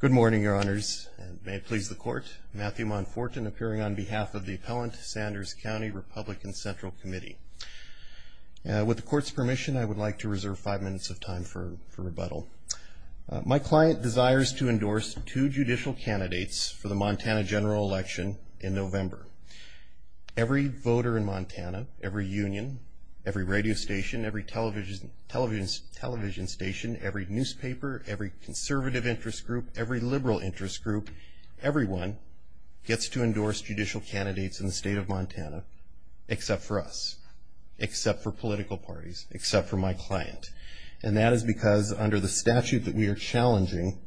Good morning, Your Honors, and may it please the Court, Matthew Monfortin, appearing on behalf of the Appellant Sanders County Republican Central Committee. With the Court's permission, I would like to reserve five minutes of time for rebuttal. My client desires to endorse two judicial candidates for the Montana general election in November. Every voter in Montana, every union, every radio station, every television station, every newspaper, every conservative interest group, every liberal interest group, everyone gets to endorse judicial candidates in the state of Montana, except for us, except for political parties, except for my client. And that is because, under the statute that we are challenging,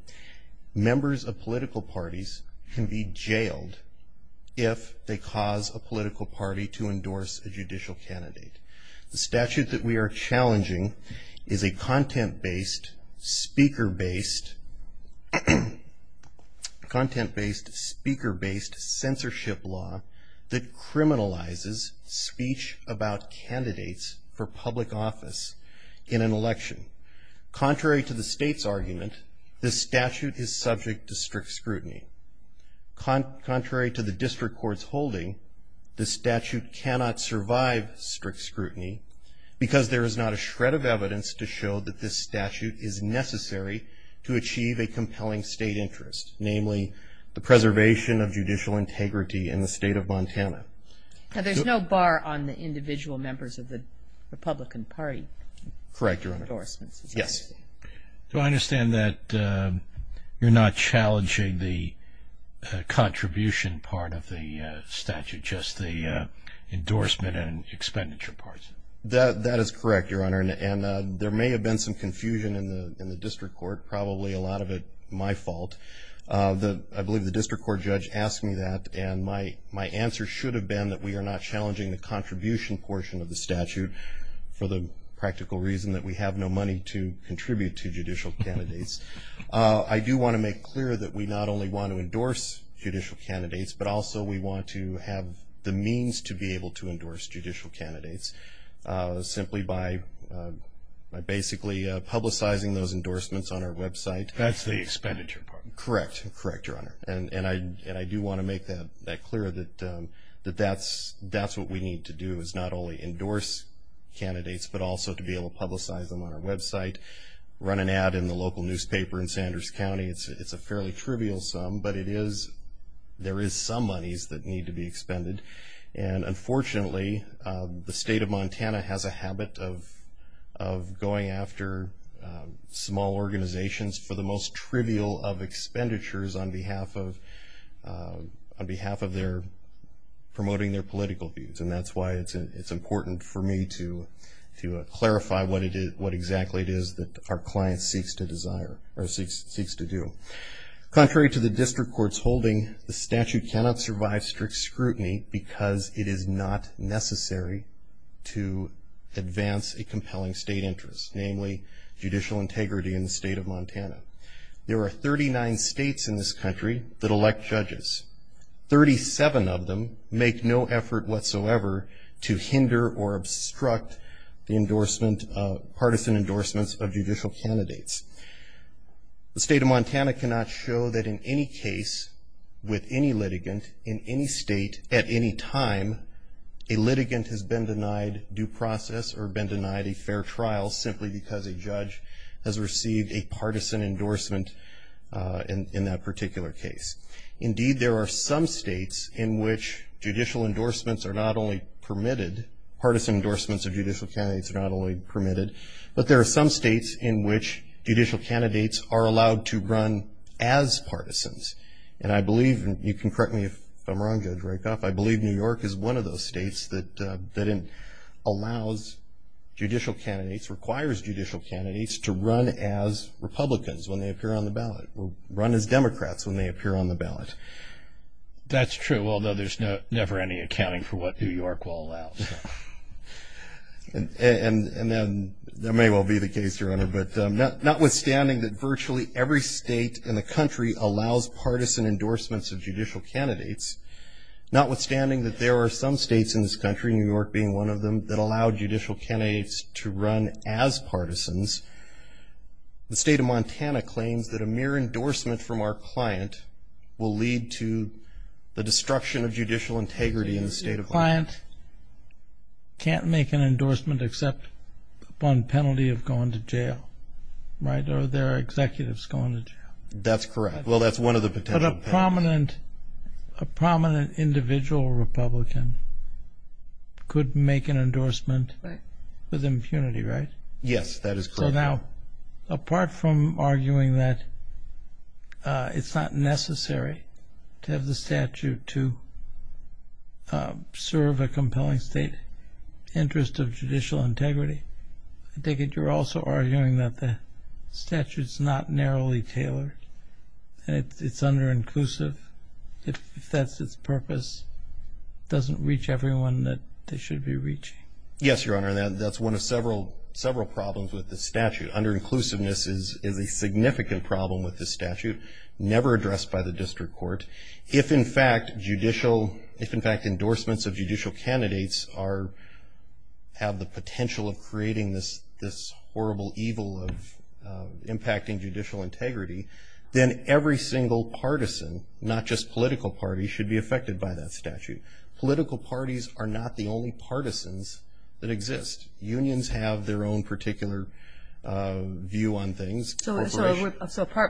members of political parties can be jailed if they cause a political party to endorse a judicial candidate. The statute that we are challenging is a content-based, speaker-based censorship law that criminalizes speech about candidates for public office in an election. Contrary to the state's argument, this statute is subject to strict scrutiny. Contrary to the district court's holding, this statute cannot survive strict scrutiny, because there is not a shred of evidence to show that this statute is necessary to achieve a compelling state interest, namely, the preservation of judicial integrity in the state of Montana. Now, there's no bar on the individual members of the Republican Party for endorsements? Yes. Do I understand that you're not challenging the contribution part of the statute, just the endorsement and expenditure parts? That is correct, Your Honor, and there may have been some confusion in the district court, probably a lot of it my fault. I believe the district court judge asked me that, and my answer should have been that we are not challenging the contribution portion of the statute for the practical reason that we have no money to contribute to judicial candidates. I do want to make clear that we not only want to endorse judicial candidates, but also we want to have the means to be able to endorse judicial candidates, simply by basically publicizing those endorsements on our website. That's the expenditure part? Correct, Your Honor, and I do want to make that clear that that's what we need to do, is not only endorse candidates, but also to be able to publicize them on our website, run an ad in the local newspaper in Sanders County. It's a fairly trivial sum, but there is some monies that need to be expended, and unfortunately, the state of Montana has a habit of going after small organizations for the most trivial of expenditures on behalf of their promoting their political views, and that's why it's important for me to clarify what exactly it is that our client seeks to desire, or seeks to do. Contrary to the district court's holding, the statute cannot survive strict scrutiny because it is not necessary to advance a compelling state interest, namely judicial integrity in the state of Montana. There are 39 states in this country that elect judges. 37 of them make no effort whatsoever to hinder or obstruct the endorsement, partisan endorsements of judicial candidates. The state of Montana cannot show that in any case, with any litigant, in any state, at any time, a litigant has been denied due process or been denied a fair trial simply because a judge has received a partisan endorsement in that particular case. Indeed, there are some states in which judicial endorsements are not only permitted, partisan endorsements of judicial candidates are not only permitted, but there are some states in which judicial candidates are allowed to run as partisans. And I believe, and you can correct me if I'm wrong, Judge Rykoff, I believe New York is one of those states that allows judicial candidates, requires judicial candidates to run as Republicans when they appear on the ballot, or run as Democrats when they appear on the ballot. That's true, although there's never any accounting for what New York will allow. And then, there may well be the case, Your Honor, but notwithstanding that virtually every state in the country allows partisan endorsements of judicial candidates, notwithstanding that there are some states in this country, New York being one of them, that allow judicial candidates to run as partisans, the state of Montana claims that a mere endorsement from our client will lead to the destruction of judicial integrity in the state of Montana. A client can't make an endorsement except upon penalty of going to jail, right? Or their executive's going to jail. That's correct. Well, that's one of the potential penalties. But a prominent, a prominent individual Republican could make an endorsement with impunity, right? Yes, that is correct. So now, apart from arguing that it's not necessary to have the statute to serve a compelling state interest of judicial integrity, I take it you're also arguing that the statute's not narrowly tailored, and it's under-inclusive. If that's its purpose, it doesn't reach everyone that they should be reaching. Yes, Your Honor, that's one of several problems with the statute. Under-inclusiveness is a significant problem with the statute, never addressed by the district court. If, in fact, judicial, if, in fact, endorsements of judicial candidates are, have the potential of creating this horrible evil of impacting judicial integrity, then every single partisan, not just political parties, should be affected by that statute. Political parties are not the only partisans that exist. Unions have their own particular view on things. So,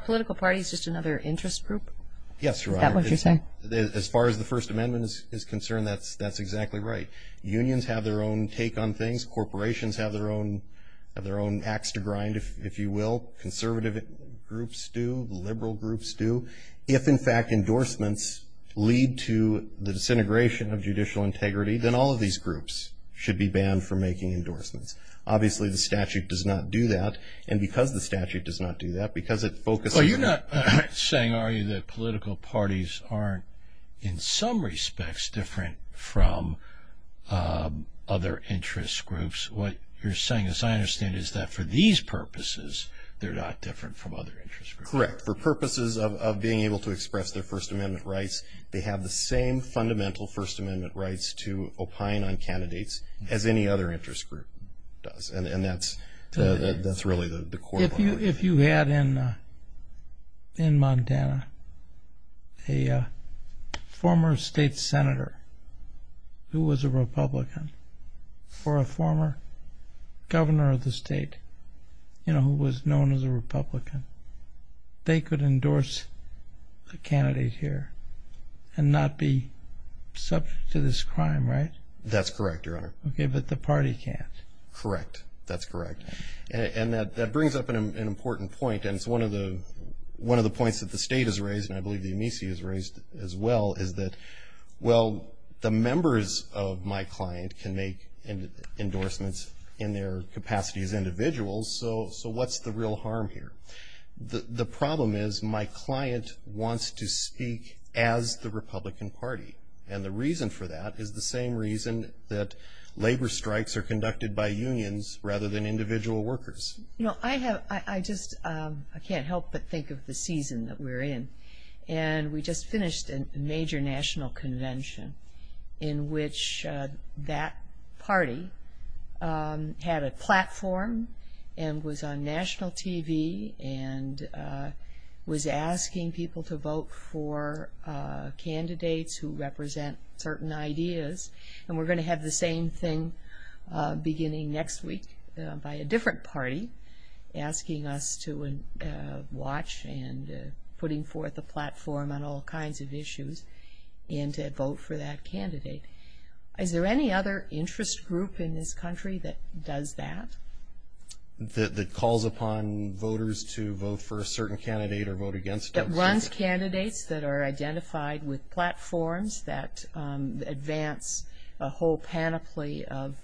political parties, just another interest group? Yes, Your Honor, as far as the First Amendment is concerned, that's exactly right. Unions have their own take on things. Corporations have their own, have their own ax to grind, if you will. Conservative groups do. Liberal groups do. If, in fact, endorsements lead to the disintegration of judicial integrity, then all of these groups should be banned from making endorsements. Obviously, the statute does not do that, and because the statute does not do that, because it focuses on- Well, you're not saying, are you, that political parties aren't, in some respects, different from other interest groups. What you're saying, as I understand it, is that for these purposes, they're not different from other interest groups. Correct. For purposes of being able to express their First Amendment rights, they have the same fundamental First Amendment rights to opine on candidates as any other interest group does, and that's really the core of our work. If you had, in Montana, a former state senator who was a Republican, or a former governor of the state, you know, who was known as a Republican, they could endorse a candidate here and not be subject to this crime, right? That's correct, Your Honor. Okay, but the party can't. Correct. That's correct. And that brings up an important point, and it's one of the points that the state has raised, and I believe the Amici has raised as well, is that, well, the members of my client can make endorsements in their capacity as individuals, so what's the real harm here? The problem is my client wants to speak as the Republican Party, and the reason for that is the same reason that labor strikes are conducted by unions rather than individual workers. You know, I have, I just, I can't help but think of the season that we're in, and we just finished a major national convention in which that party had a platform, and was on national TV, and was asking people to vote for candidates who represent certain ideas, and we're going to have the same thing beginning next week by a different party asking us to watch and putting forth a platform on all kinds of issues, and to vote for that candidate. Is there any other interest group in this country that does that? That calls upon voters to vote for a certain candidate or vote against a candidate? It runs candidates that are identified with platforms that advance a whole panoply of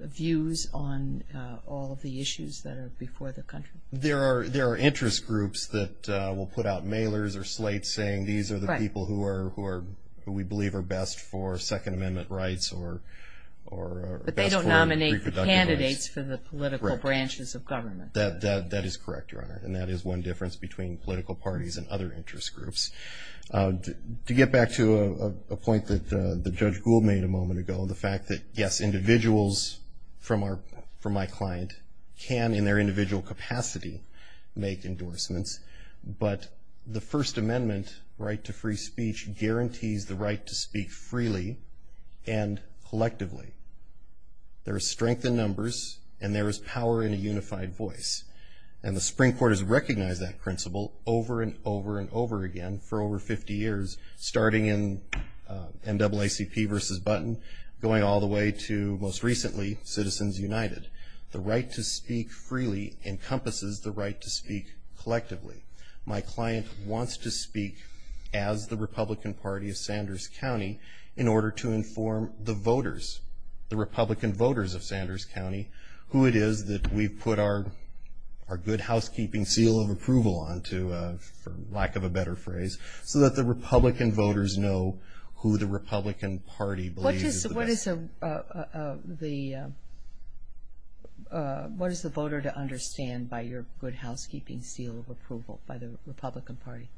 views on all of the issues that are before the country. There are interest groups that will put out mailers or slates saying these are the people who are, who we believe are best for Second Amendment rights or best for reproductive rights. But they don't nominate the candidates for the political branches of government. That is correct, Your Honor, and that is one difference between political parties and other interest groups. To get back to a point that Judge Gould made a moment ago, the fact that, yes, individuals from my client can, in their individual capacity, make endorsements, but the First Amendment right to free speech guarantees the right to speak freely and collectively. There is strength in numbers, and there is power in a unified voice. And the Supreme Court has recognized that principle over and over and over again for over 50 years, starting in NAACP versus Button, going all the way to, most recently, Citizens United. The right to speak freely encompasses the right to speak collectively. My client wants to speak as the Republican Party of Sanders County in order to inform the voters, the Republican voters of Sanders County, who it is that we've put our good housekeeping seal of approval onto, for lack of a better phrase, so that the Republican voters know who the Republican Party believes is the best. What is the voter to understand by your good housekeeping seal of approval by the Republican Party?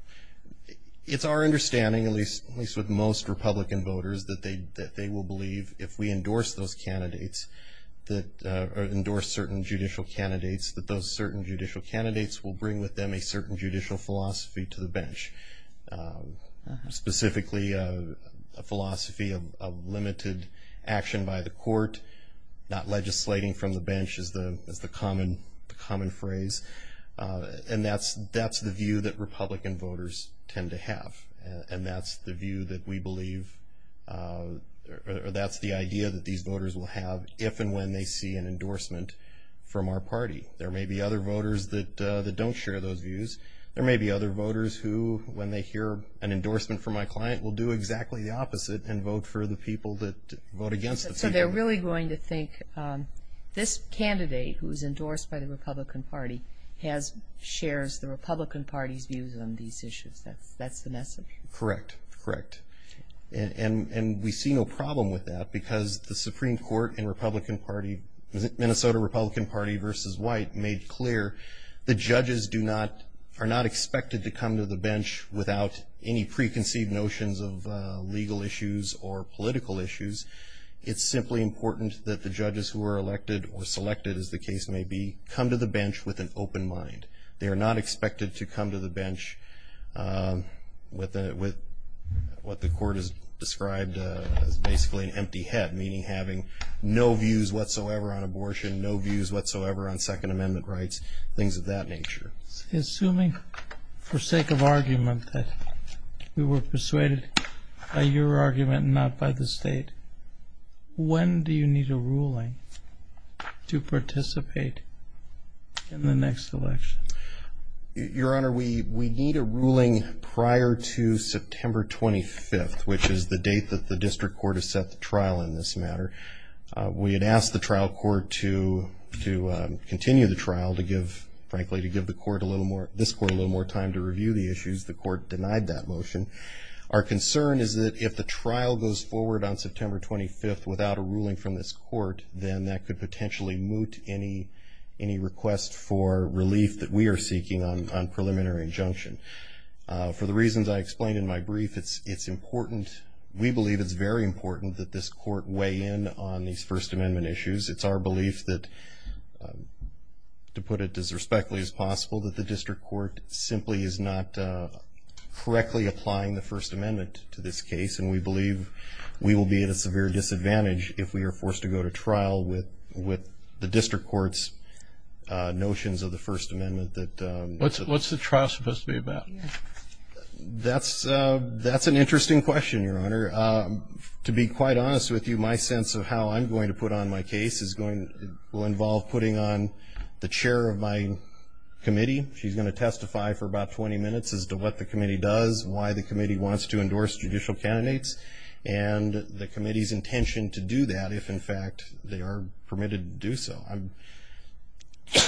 It's our understanding, at least with most Republican voters, that they will believe, if we endorse those candidates, or endorse certain judicial candidates, that those certain judicial candidates will bring with them a certain judicial philosophy to the bench. Specifically, a philosophy of limited action by the court, not legislating from the bench is the common phrase. And that's the view that Republican voters tend to have. And that's the view that we believe, or that's the idea that these voters will have, if and when they see an endorsement from our party. There may be other voters that don't share those views. There may be other voters who, when they hear an endorsement from my client, will do exactly the opposite and vote for the people that vote against it. So they're really going to think, this candidate, who is endorsed by the Republican Party, shares the Republican Party's views on these issues. That's the message. Correct. Correct. And we see no problem with that, because the Supreme Court in the Minnesota Republican Party versus White made clear the judges are not expected to come to the bench without any preconceived notions of legal issues or political issues. It's simply important that the judges who are elected or selected, as the case may be, come to the bench with an open mind. They are not expected to come to the bench with what the court has described as basically an empty head, meaning having no views whatsoever on abortion, no views whatsoever on Second Amendment rights, things of that nature. Assuming, for sake of argument, that we were persuaded by your argument and not by the state, when do you need a ruling to participate in the next election? Your Honor, we need a ruling prior to September 25th, which is the date that the district court has set the trial in this matter. We had asked the trial court to continue the trial to give, frankly, to give the court a little more, this court a little more time to review the issues. The court denied that motion. Our concern is that if the trial goes forward on September 25th without a ruling from this court, then that could potentially moot any request for relief that we are seeking on preliminary injunction. For the reasons I explained in my brief, it's important, we believe it's very important that this court weigh in on these First Amendment issues. It's our belief that, to put it as respectfully as possible, that the district court simply is not correctly applying the First Amendment to this case, and we believe we will be at a severe disadvantage if we are forced to go to trial with the district court's notions of the First Amendment that... What's the trial supposed to be about? That's an interesting question, Your Honor. To be quite honest with you, my sense of how I'm going to put on my case is going to... will involve putting on the chair of my committee. She's going to testify for about 20 minutes as to what the committee does, why the committee wants to endorse judicial candidates, and the committee's intention to do that if, in fact, they are permitted to do so.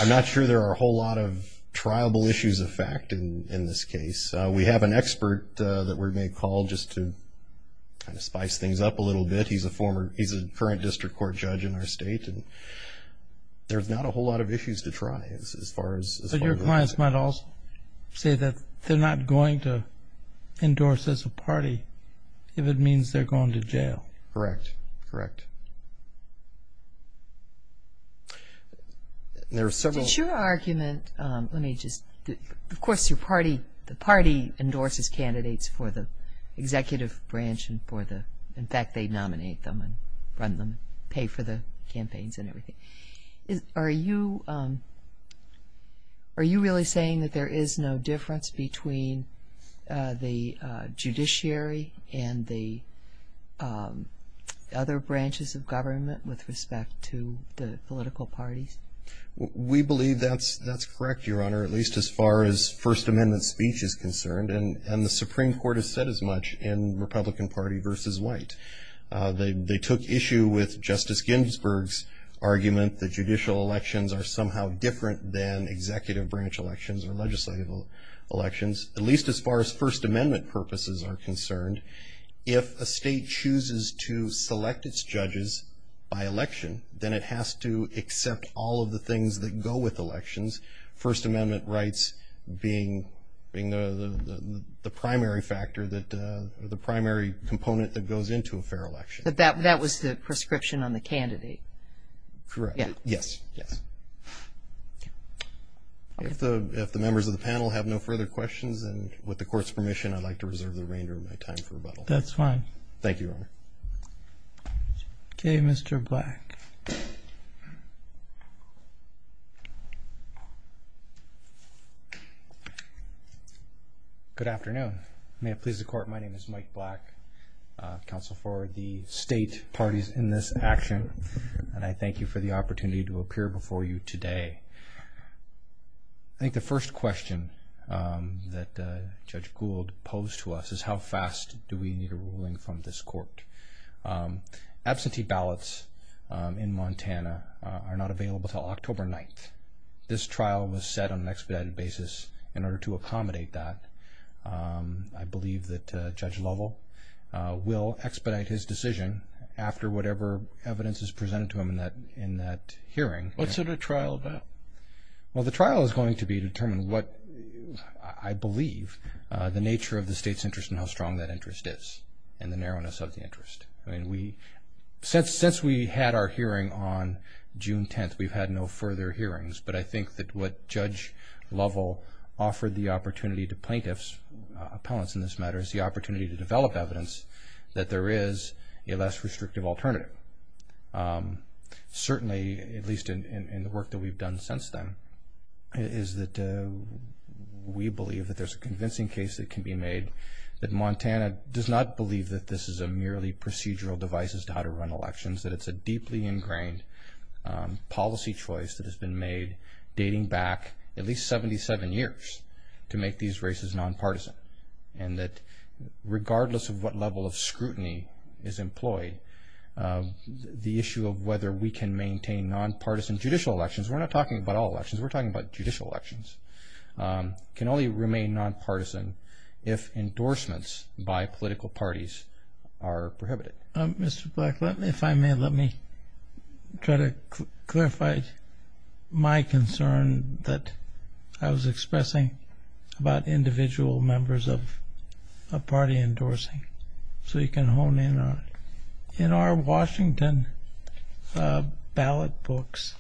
I'm not sure there are a whole lot of triable issues of fact in this case. We have an expert that we may call just to kind of spice things up a little bit. He's a former... he's a current district court judge in our state, and there's not a whole lot of issues to try as far as... But your clients might also say that they're not going to endorse as a party if it means they're going to jail. Correct. Correct. There are several... Did your argument... let me just... Of course, your party... the party endorses candidates for the executive branch and for the... in fact, they nominate them and run them, pay for the campaigns and everything. Are you... are you really saying that there is no difference between the judiciary and the other branches of government with respect to the political parties? We believe that's correct, Your Honor, at least as far as First Amendment speech is concerned. And the Supreme Court has said as much in Republican Party v. White. They took issue with Justice Ginsburg's argument that judicial elections are somehow different than executive branch elections or legislative elections, at least as far as First Amendment purposes are concerned. If a state chooses to select its judges by election, then it has to accept all of the things that go with elections, First Amendment rights being the primary factor that... or the primary component that goes into a fair election. But that was the prescription on the candidate. Correct. Yes. Yes. If the members of the panel have no further questions, I'd like to reserve the remainder of my time for rebuttal. That's fine. Thank you, Your Honor. Okay, Mr. Black. Good afternoon. May it please the Court, my name is Mike Black, counsel for the state parties in this action, and I thank you for the opportunity to appear before you today. I think the first question that Judge Gould posed to us is how fast do we need a ruling from this Court? Absentee ballots in Montana are not available until October 9th. This trial was set on an expedited basis in order to accommodate that. I believe that Judge Lovell will expedite his decision after whatever evidence is presented to him in that hearing. What's it a trial about? Well, the trial is going to determine what I believe the nature of the state's interest and how strong that interest is and the narrowness of the interest. Since we had our hearing on June 10th, we've had no further hearings, but I think that what Judge Lovell offered the opportunity to plaintiffs, appellants in this matter, is the opportunity to develop evidence that there is a less restrictive alternative. Certainly, at least in the work that we've done since then, is that we believe that there's a convincing case that can be made that Montana does not believe that this is a merely procedural device as to how to run elections, that it's a deeply ingrained policy choice that has been made dating back at least 77 years to make these races nonpartisan, and that regardless of what level of scrutiny is employed, the issue of whether we can maintain nonpartisan judicial elections, we're not talking about all elections, we're talking about judicial elections, can only remain nonpartisan if endorsements by political parties are prohibited. Mr. Black, if I may, let me try to clarify my concern that I was expressing about individual members of a party endorsing. So you can hone in on it. In our Washington ballot books,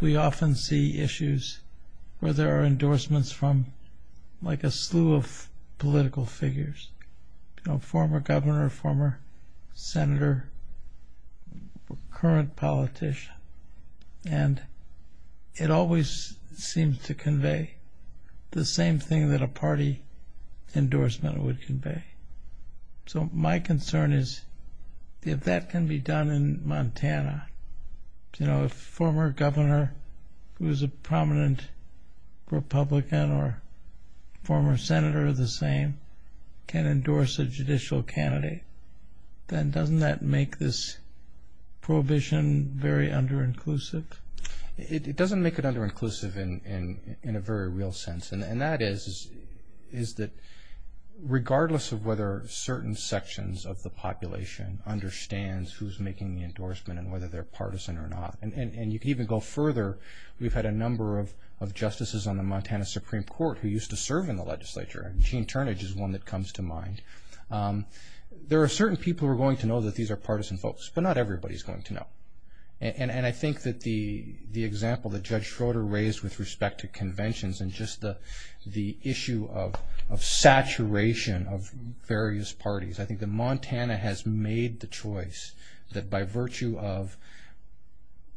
we often see issues where there are endorsements from like a slew of political figures, former governor, former senator, current politician, and it always seems to convey the same thing that a party endorsement would convey. So my concern is if that can be done in Montana, if a former governor who is a prominent Republican or former senator of the same can endorse a judicial candidate, then doesn't that make this prohibition very under-inclusive? It doesn't make it under-inclusive in a very real sense, and that is that regardless of whether certain sections of the population understands who's making the endorsement and whether they're partisan or not, and you can even go further. We've had a number of justices on the Montana Supreme Court who used to serve in the legislature. Gene Turnage is one that comes to mind. There are certain people who are going to know that these are partisan folks, but not everybody is going to know. And I think that the example that Judge Schroeder raised with respect to conventions and just the issue of saturation of various parties, I think that Montana has made the choice that by virtue of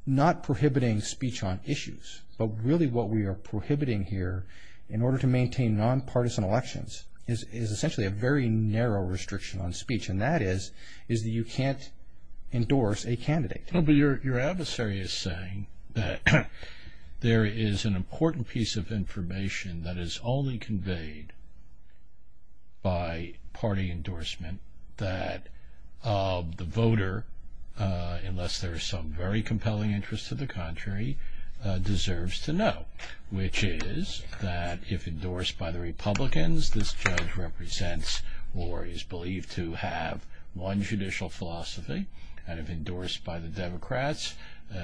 not prohibiting speech on issues, but really what we are prohibiting here in order to maintain nonpartisan elections is essentially a very narrow restriction on speech, and that is that you can't endorse a candidate. But your adversary is saying that there is an important piece of information that is only conveyed by party endorsement that the voter, unless there is some very compelling interest to the contrary, deserves to know, which is that if endorsed by the Republicans, this judge represents or is believed to have one judicial philosophy, and if endorsed by the Democrats,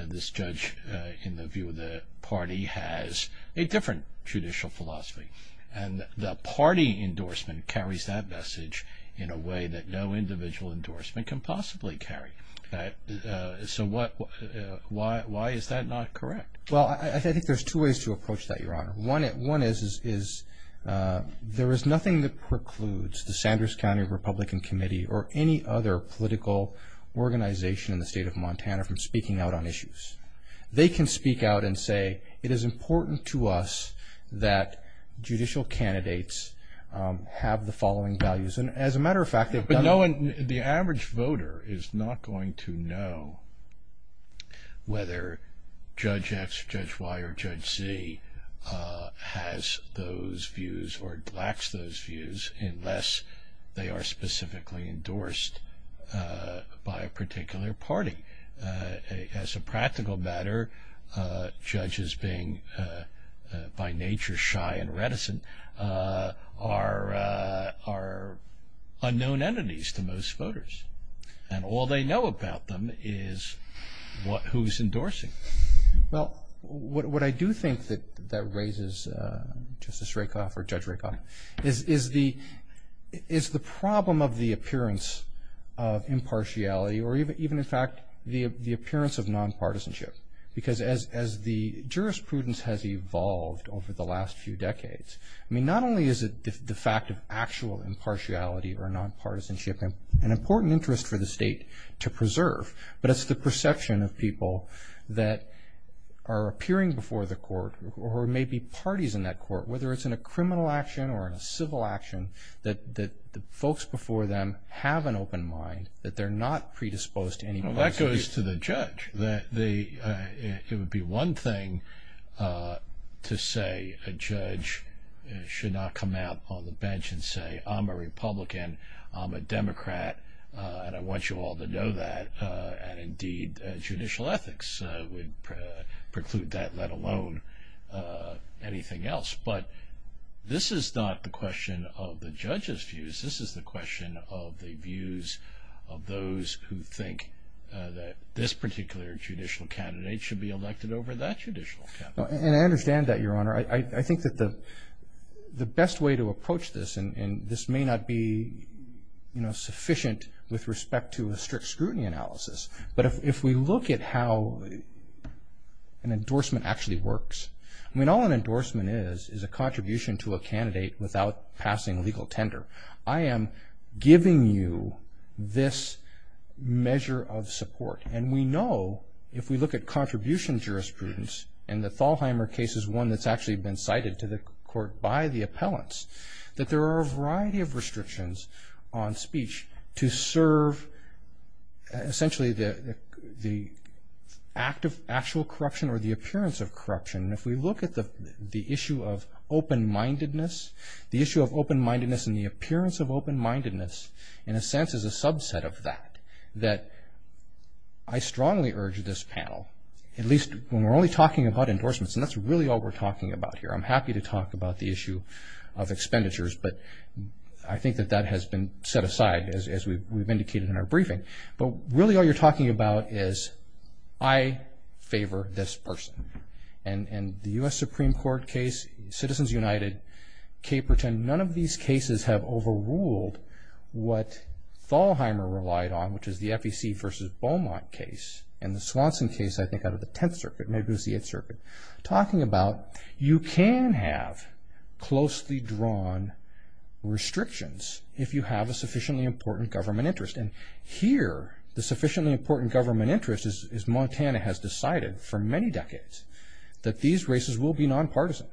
this judge in the view of the party has a different judicial philosophy. And the party endorsement carries that message in a way that no individual endorsement can possibly carry. So why is that not correct? Well, I think there's two ways to approach that, Your Honor. One is there is nothing that precludes the Sanders County Republican Committee or any other political organization in the state of Montana from speaking out on issues. They can speak out and say it is important to us that judicial candidates have the following values. As a matter of fact, they've done it. But the average voter is not going to know whether Judge X, Judge Y, or Judge Z has those views or lacks those views unless they are specifically endorsed by a particular party. As a practical matter, judges being by nature shy and reticent are unknown entities to most voters, and all they know about them is who's endorsing them. Well, what I do think that raises Justice Rakoff or Judge Rakoff is the problem of the appearance of impartiality or even, in fact, the appearance of nonpartisanship. Because as the jurisprudence has evolved over the last few decades, I mean, not only is it the fact of actual impartiality or nonpartisanship an important interest for the state to preserve, but it's the perception of people that are appearing before the court or may be parties in that court, whether it's in a criminal action or in a civil action, that the folks before them have an open mind, that they're not predisposed to any partisanship. Well, that goes to the judge. It would be one thing to say a judge should not come out on the bench and say, I'm a Republican, I'm a Democrat, and I want you all to know that, and indeed judicial ethics would preclude that, let alone anything else. But this is not the question of the judge's views. This is the question of the views of those who think that this particular judicial candidate should be elected over that judicial candidate. And I understand that, Your Honor. I think that the best way to approach this, and this may not be sufficient with respect to a strict scrutiny analysis, but if we look at how an endorsement actually works, I mean all an endorsement is is a contribution to a candidate without passing legal tender. I am giving you this measure of support, and we know if we look at contribution jurisprudence, and the Thalheimer case is one that's actually been cited to the court by the appellants, that there are a variety of restrictions on speech to serve essentially the act of actual corruption or the appearance of corruption. And if we look at the issue of open-mindedness, the issue of open-mindedness and the appearance of open-mindedness, in a sense is a subset of that, that I strongly urge this panel, at least when we're only talking about endorsements, and that's really all we're talking about here, I'm happy to talk about the issue of expenditures, but I think that that has been set aside as we've indicated in our briefing. But really all you're talking about is I favor this person. And the U.S. Supreme Court case, Citizens United, Caperton, none of these cases have overruled what Thalheimer relied on, which is the FEC versus Beaumont case, and the Swanson case I think out of the Tenth Circuit, maybe it was the Eighth Circuit, talking about you can have closely drawn restrictions if you have a sufficiently important government interest. And here the sufficiently important government interest is Montana has decided for many decades that these races will be non-partisan.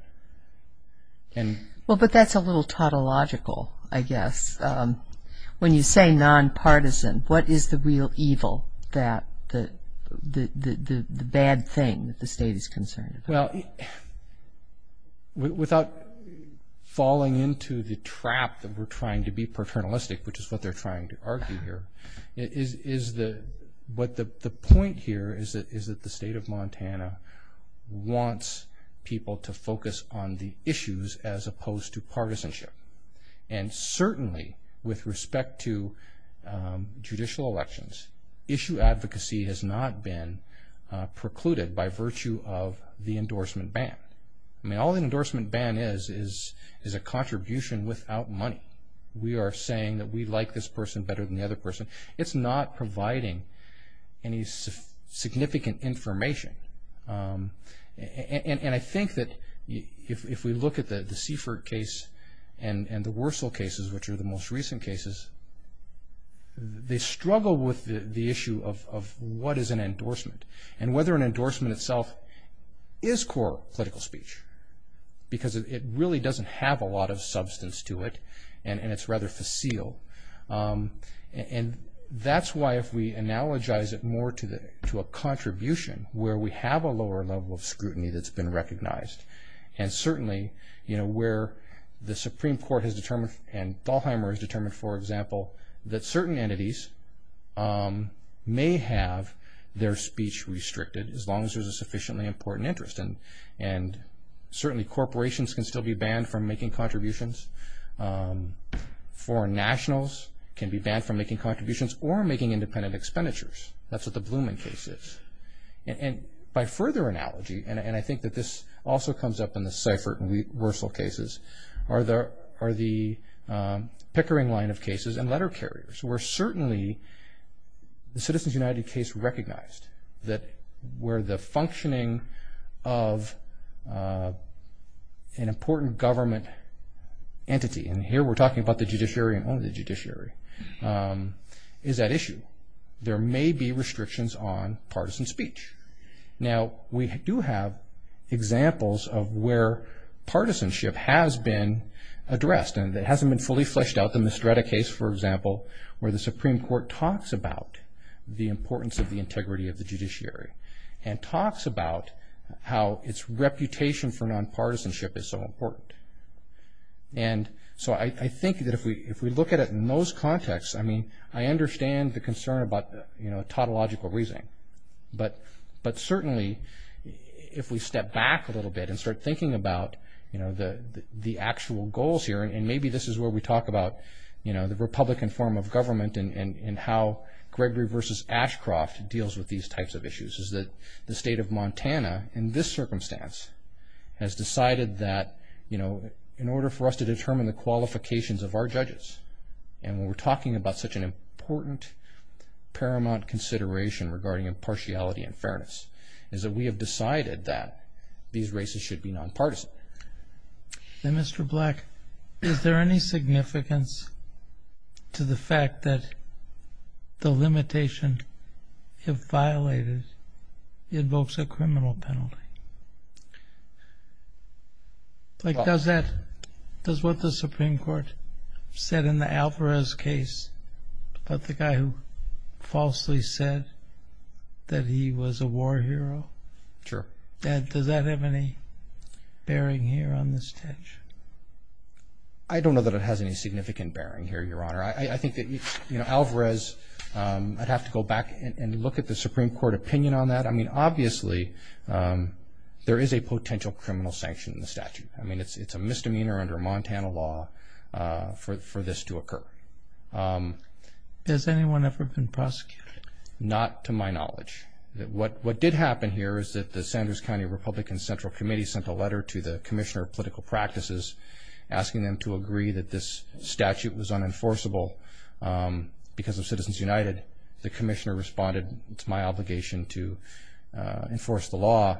Well, but that's a little tautological, I guess. When you say non-partisan, what is the real evil, the bad thing that the state is concerned about? Well, without falling into the trap that we're trying to be paternalistic, which is what they're trying to argue here, the point here is that the state of Montana wants people to focus on the issues as opposed to partisanship. And certainly with respect to judicial elections, issue advocacy has not been precluded by virtue of the endorsement ban. I mean, all the endorsement ban is is a contribution without money. We are saying that we like this person better than the other person. It's not providing any significant information. And I think that if we look at the Seifert case and the Wursel cases, which are the most recent cases, they struggle with the issue of what is an endorsement and whether an endorsement itself is core political speech because it really doesn't have a lot of substance to it and it's rather facile. And that's why if we analogize it more to a contribution where we have a lower level of scrutiny that's been recognized and certainly where the Supreme Court has determined and Dalheimer has determined, for example, that certain entities may have their speech restricted as long as there's a sufficiently important interest. And certainly corporations can still be banned from making contributions. Foreign nationals can be banned from making contributions or making independent expenditures. That's what the Blumen case is. And by further analogy, and I think that this also comes up in the Seifert and Wursel cases, are the Pickering line of cases and letter carriers where certainly the Citizens United case recognized that where the functioning of an important government entity, and here we're talking about the judiciary and only the judiciary, is at issue. There may be restrictions on partisan speech. Now, we do have examples of where partisanship has been addressed and it hasn't been fully fleshed out in the Strata case, for example, where the Supreme Court talks about the importance of the integrity of the judiciary and talks about how its reputation for nonpartisanship is so important. And so I think that if we look at it in those contexts, I mean, I understand the concern about the tautological reasoning, but certainly if we step back a little bit and start thinking about the actual goals here, and maybe this is where we talk about the republican form of government and how Gregory v. Ashcroft deals with these types of issues, is that the state of Montana in this circumstance has decided that in order for us to determine the qualifications of our judges, and when we're talking about such an important paramount consideration regarding impartiality and fairness, is that we have decided that these races should be nonpartisan. Then, Mr. Black, is there any significance to the fact that the limitation, if violated, invokes a criminal penalty? Like, does what the Supreme Court said in the Alvarez case about the guy who falsely said that he was a war hero, does that have any bearing here on this tension? I don't know that it has any significant bearing here, Your Honor. I think that Alvarez, I'd have to go back and look at the Supreme Court opinion on that. I mean, obviously, there is a potential criminal sanction in the statute. I mean, it's a misdemeanor under Montana law for this to occur. Has anyone ever been prosecuted? Not to my knowledge. What did happen here is that the Sanders County Republican Central Committee sent a letter to the Commissioner of Political Practices asking them to agree that this statute was unenforceable because of Citizens United. The Commissioner responded, it's my obligation to enforce the law,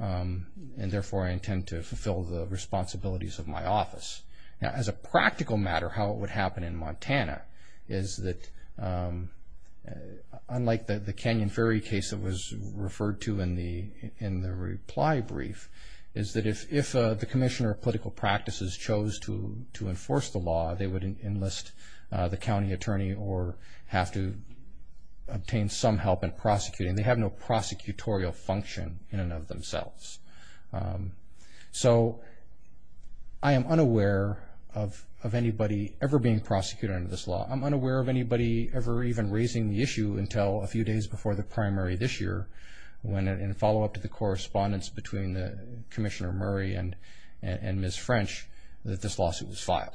and therefore I intend to fulfill the responsibilities of my office. Now, as a practical matter, how it would happen in Montana is that, unlike the Canyon Ferry case that was referred to in the reply brief, is that if the Commissioner of Political Practices chose to enforce the law, they would enlist the county attorney or have to obtain some help in prosecuting. They have no prosecutorial function in and of themselves. So I am unaware of anybody ever being prosecuted under this law. I'm unaware of anybody ever even raising the issue until a few days before the primary this year when, in follow-up to the correspondence between Commissioner Murray and Ms. French, that this lawsuit was filed.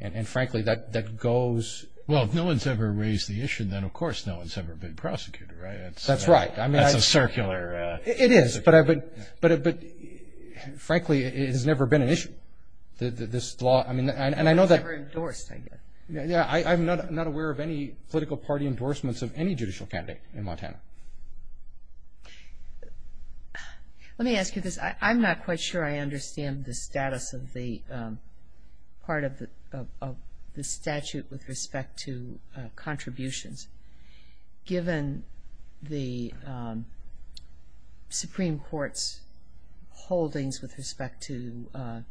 And, frankly, that goes... Well, if no one's ever raised the issue, then of course no one's ever been prosecuted, right? That's right. That's a circular... It is, but, frankly, it has never been an issue. This law, I mean, and I know that... It was never endorsed, I guess. Yeah, I'm not aware of any political party endorsements of any judicial candidate in Montana. Let me ask you this. I'm not quite sure I understand the status of the part of the statute with respect to contributions. Given the Supreme Court's holdings with respect to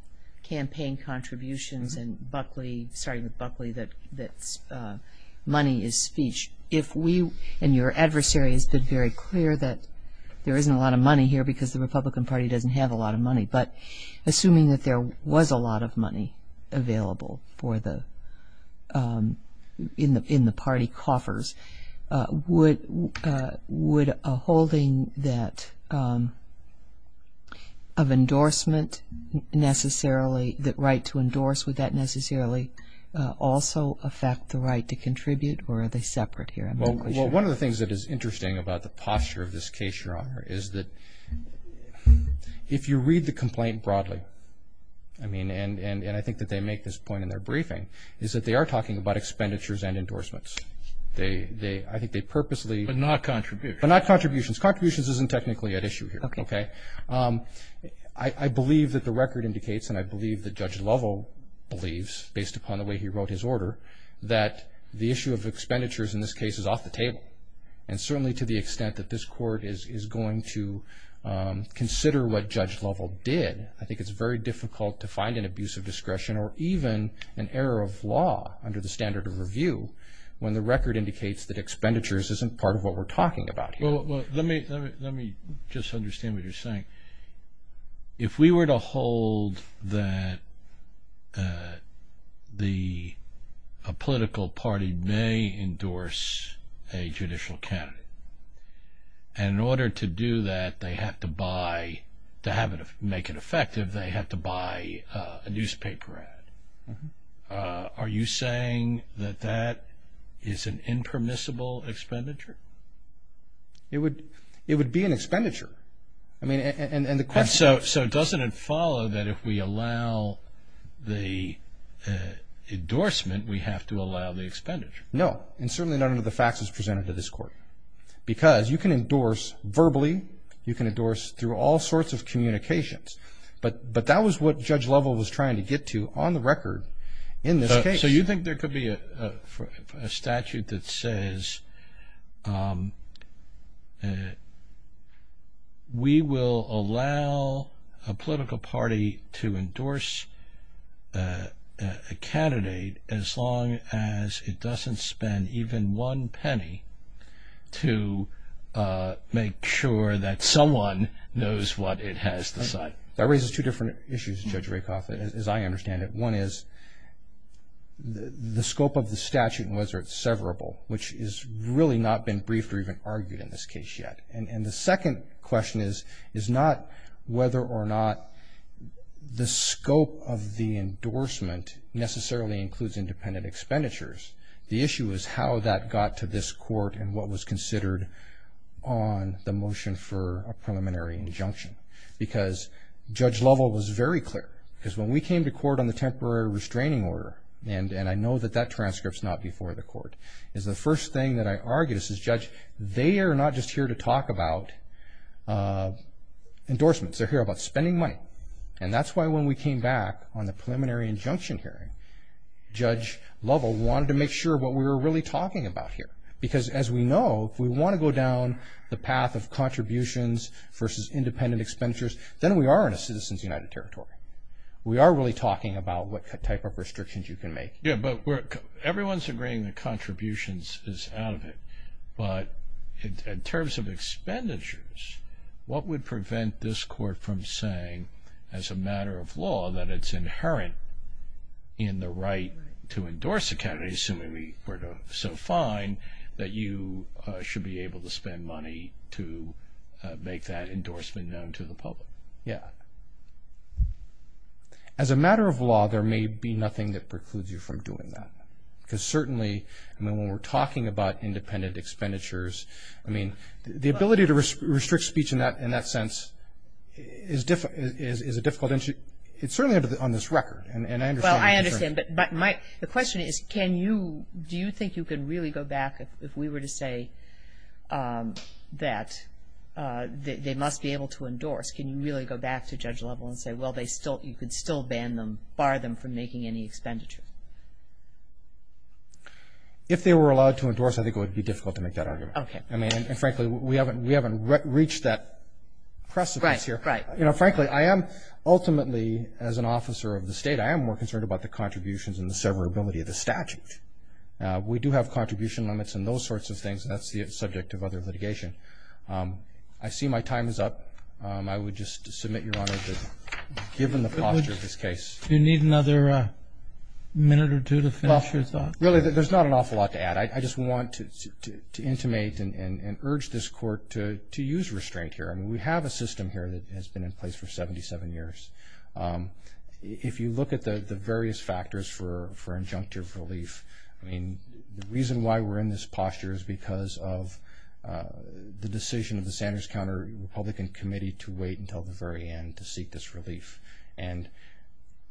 campaign contributions and Buckley, starting with Buckley, that money is speech, if we, and your adversary has been very clear that there isn't a lot of money here because the Republican Party doesn't have a lot of money, but assuming that there was a lot of money available in the party coffers, would a holding of endorsement necessarily, the right to endorse, would that necessarily also affect the right to contribute, or are they separate here? I'm not quite sure. Well, one of the things that is interesting about the posture of this case, Your Honor, is that if you read the complaint broadly, and I think that they make this point in their briefing, is that they are talking about expenditures and endorsements. I think they purposely... But not contributions. But not contributions. Contributions isn't technically at issue here. I believe that the record indicates, and I believe that Judge Lovell believes, based upon the way he wrote his order, that the issue of expenditures in this case is off the table. And certainly to the extent that this court is going to consider what Judge Lovell did, I think it's very difficult to find an abuse of discretion or even an error of law under the standard of review when the record indicates that expenditures isn't part of what we're talking about here. Well, let me just understand what you're saying. If we were to hold that a political party may endorse a judicial candidate, and in order to do that they have to buy, to make it effective, they have to buy a newspaper ad, are you saying that that is an impermissible expenditure? It would be an expenditure. So doesn't it follow that if we allow the endorsement, we have to allow the expenditure? No. And certainly none of the facts is presented to this court. Because you can endorse verbally, you can endorse through all sorts of communications. But that was what Judge Lovell was trying to get to on the record in this case. So you think there could be a statute that says, we will allow a political party to endorse a candidate as long as it doesn't spend even one penny to make sure that someone knows what it has to decide. That raises two different issues, Judge Rakoff, as I understand it. One is the scope of the statute and whether it's severable, which has really not been briefed or even argued in this case yet. And the second question is not whether or not the scope of the endorsement necessarily includes independent expenditures. The issue is how that got to this court and what was considered on the motion for a preliminary injunction. Because Judge Lovell was very clear. Because when we came to court on the temporary restraining order, and I know that that transcript's not before the court, is the first thing that I argued is, Judge, they are not just here to talk about endorsements. They're here about spending money. And that's why when we came back on the preliminary injunction hearing, Judge Lovell wanted to make sure what we were really talking about here. versus independent expenditures, then we are in a Citizens United Territory. We are really talking about what type of restrictions you can make. Yeah, but everyone's agreeing that contributions is out of it. But in terms of expenditures, what would prevent this court from saying as a matter of law that it's inherent in the right to endorse a candidate, assuming we're so fine, that you should be able to spend money to make that endorsement known to the public? Yeah. As a matter of law, there may be nothing that precludes you from doing that. Because certainly when we're talking about independent expenditures, the ability to restrict speech in that sense is a difficult issue. It's certainly on this record, and I understand the concern. The question is, do you think you can really go back, if we were to say that they must be able to endorse, can you really go back to Judge Lovell and say, well, you could still bar them from making any expenditures? If they were allowed to endorse, I think it would be difficult to make that argument. And frankly, we haven't reached that precipice here. Frankly, I am ultimately, as an officer of the state, I am more concerned about the contributions and the severability of the statute. We do have contribution limits and those sorts of things, and that's the subject of other litigation. I see my time is up. I would just submit, Your Honor, given the posture of this case. Do you need another minute or two to finish your thoughts? Really, there's not an awful lot to add. I just want to intimate and urge this Court to use restraint here. We have a system here that has been in place for 77 years. If you look at the various factors for injunctive relief, the reason why we're in this posture is because of the decision of the Sanders Counter-Republican Committee to wait until the very end to seek this relief. And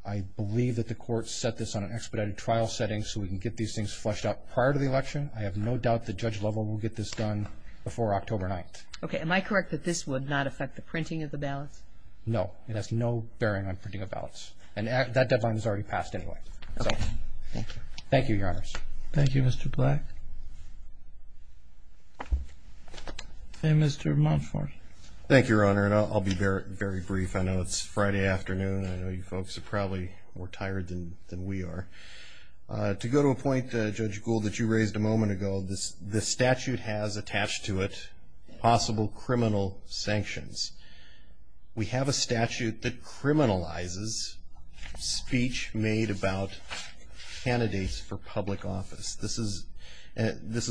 I believe that the Court set this on an expedited trial setting so we can get these things fleshed out prior to the election. I have no doubt that Judge Lovell will get this done before October 9th. Okay. Am I correct that this would not affect the printing of the ballots? No. It has no bearing on printing of ballots. And that deadline is already passed anyway. Thank you, Your Honors. Thank you, Mr. Black. And Mr. Montfort. Thank you, Your Honor, and I'll be very brief. I know it's Friday afternoon. I know you folks are probably more tired than we are. To go to a point, Judge Gould, that you raised a moment ago, the statute has attached to it possible criminal sanctions. We have a statute that criminalizes speech made about candidates for public office. This is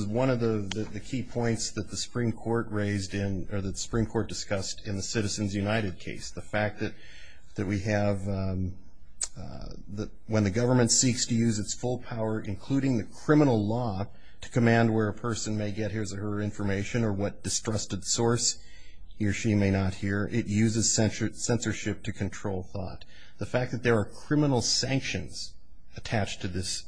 one of the key points that the Supreme Court raised in or that the Supreme Court discussed in the Citizens United case, the fact that we have when the government seeks to use its full power, including the criminal law, to command where a person may get his or her information or what distrusted source he or she may not hear, it uses censorship to control thought. The fact that there are criminal sanctions attached to this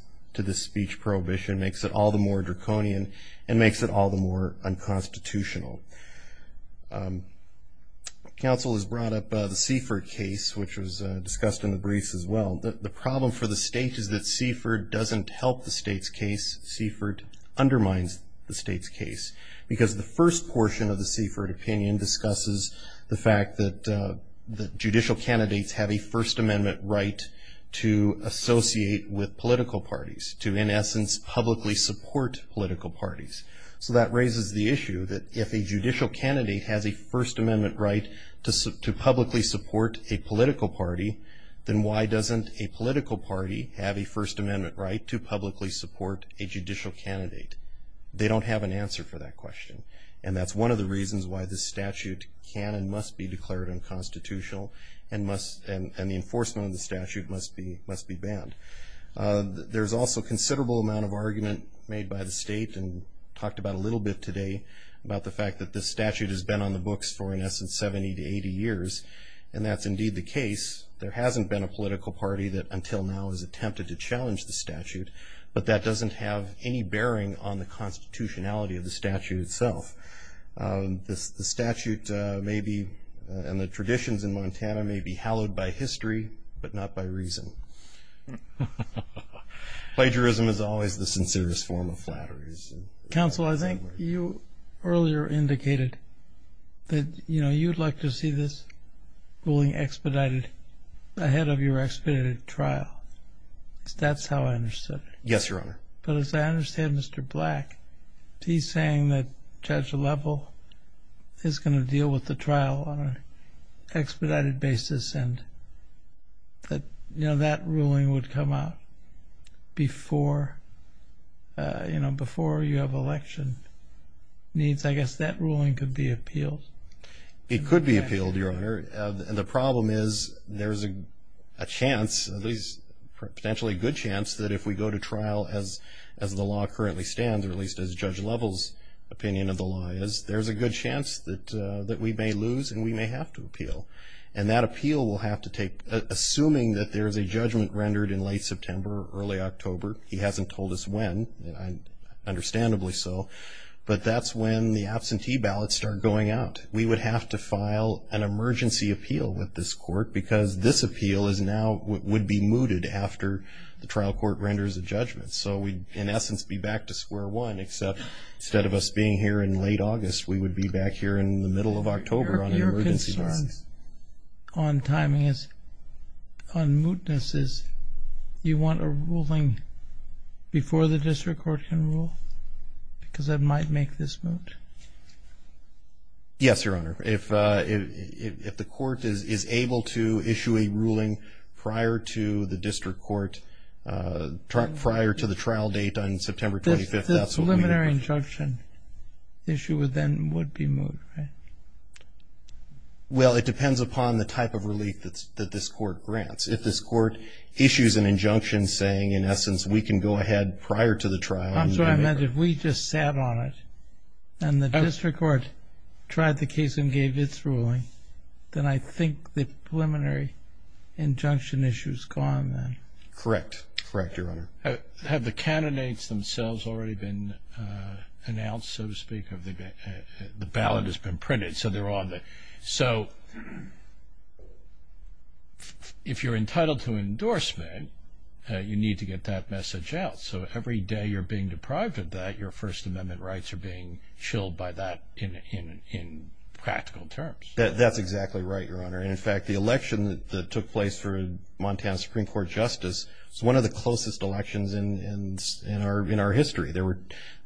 speech prohibition makes it all the more draconian and makes it all the more unconstitutional. Counsel has brought up the Seifert case, which was discussed in the briefs as well. The problem for the state is that Seifert doesn't help the state's case. Seifert undermines the state's case because the first portion of the Seifert opinion discusses the fact that judicial candidates have a First Amendment right to associate with political parties, to, in essence, publicly support political parties. So that raises the issue that if a judicial candidate has a First Amendment right to publicly support a political party, then why doesn't a political party have a First Amendment right to publicly support a judicial candidate? They don't have an answer for that question. And that's one of the reasons why this statute can and must be declared unconstitutional and the enforcement of the statute must be banned. There's also a considerable amount of argument made by the state and talked about a little bit today about the fact that this statute has been on the books for, in essence, 70 to 80 years, and that's indeed the case. There hasn't been a political party that until now has attempted to challenge the statute, but that doesn't have any bearing on the constitutionality of the statute itself. The statute may be, and the traditions in Montana may be, hallowed by history but not by reason. Plagiarism is always the sincerest form of flattery. Counsel, I think you earlier indicated that, you know, you'd like to see this ruling expedited ahead of your expedited trial. That's how I understood it. Yes, Your Honor. But as I understand, Mr. Black, he's saying that Judge Levell is going to deal with the trial on an expedited basis and that, you know, that ruling would come out before, you know, before you have election needs. I guess that ruling could be appealed. It could be appealed, Your Honor. The problem is there's a chance, at least potentially a good chance, that if we go to trial as the law currently stands, or at least as Judge Levell's opinion of the law is, there's a good chance that we may lose and we may have to appeal. And that appeal will have to take, assuming that there's a judgment rendered in late September or early October, he hasn't told us when, understandably so, but that's when the absentee ballots start going out. We would have to file an emergency appeal with this court because this appeal is now, would be mooted after the trial court renders a judgment. So we'd, in essence, be back to square one, except instead of us being here in late August, we would be back here in the middle of October on an emergency basis. Your concern on timing is, on mootness, is you want a ruling before the district court can rule because that might make this moot? Yes, Your Honor. If the court is able to issue a ruling prior to the district court, prior to the trial date on September 25th, that's what we would do. The preliminary injunction issue then would be moot, right? Well, it depends upon the type of relief that this court grants. If this court issues an injunction saying, in essence, we can go ahead prior to the trial and do it. I'm sorry, I meant if we just sat on it and the district court tried the case and gave its ruling, then I think the preliminary injunction issue is gone then. Correct. Correct, Your Honor. Have the candidates themselves already been announced, so to speak? The ballot has been printed, so they're on there. So if you're entitled to an endorsement, you need to get that message out. So every day you're being deprived of that, your First Amendment rights are being chilled by that in practical terms. That's exactly right, Your Honor. In fact, the election that took place for Montana Supreme Court justice was one of the closest elections in our history. There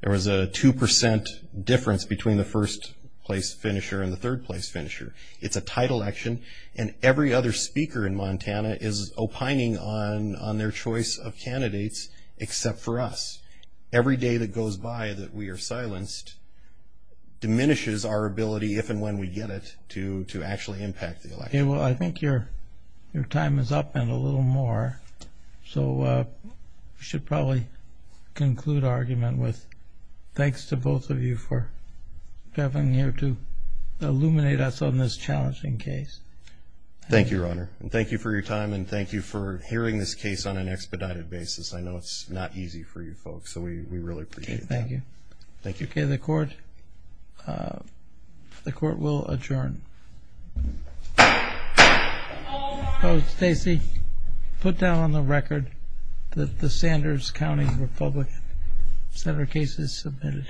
was a 2% difference between the first-place finisher and the third-place finisher. It's a tight election, and every other speaker in Montana is opining on their choice of candidates except for us. Every day that goes by that we are silenced diminishes our ability, if and when we get it, to actually impact the election. Well, I think your time is up and a little more, so we should probably conclude our argument with thanks to both of you for having here to illuminate us on this challenging case. Thank you, Your Honor, and thank you for your time, and thank you for hearing this case on an expedited basis. I know it's not easy for you folks, so we really appreciate that. Okay, thank you. Thank you. Okay, the Court will adjourn. Oh, Stacy, put down on the record that the Sanders County Republican Center case is submitted.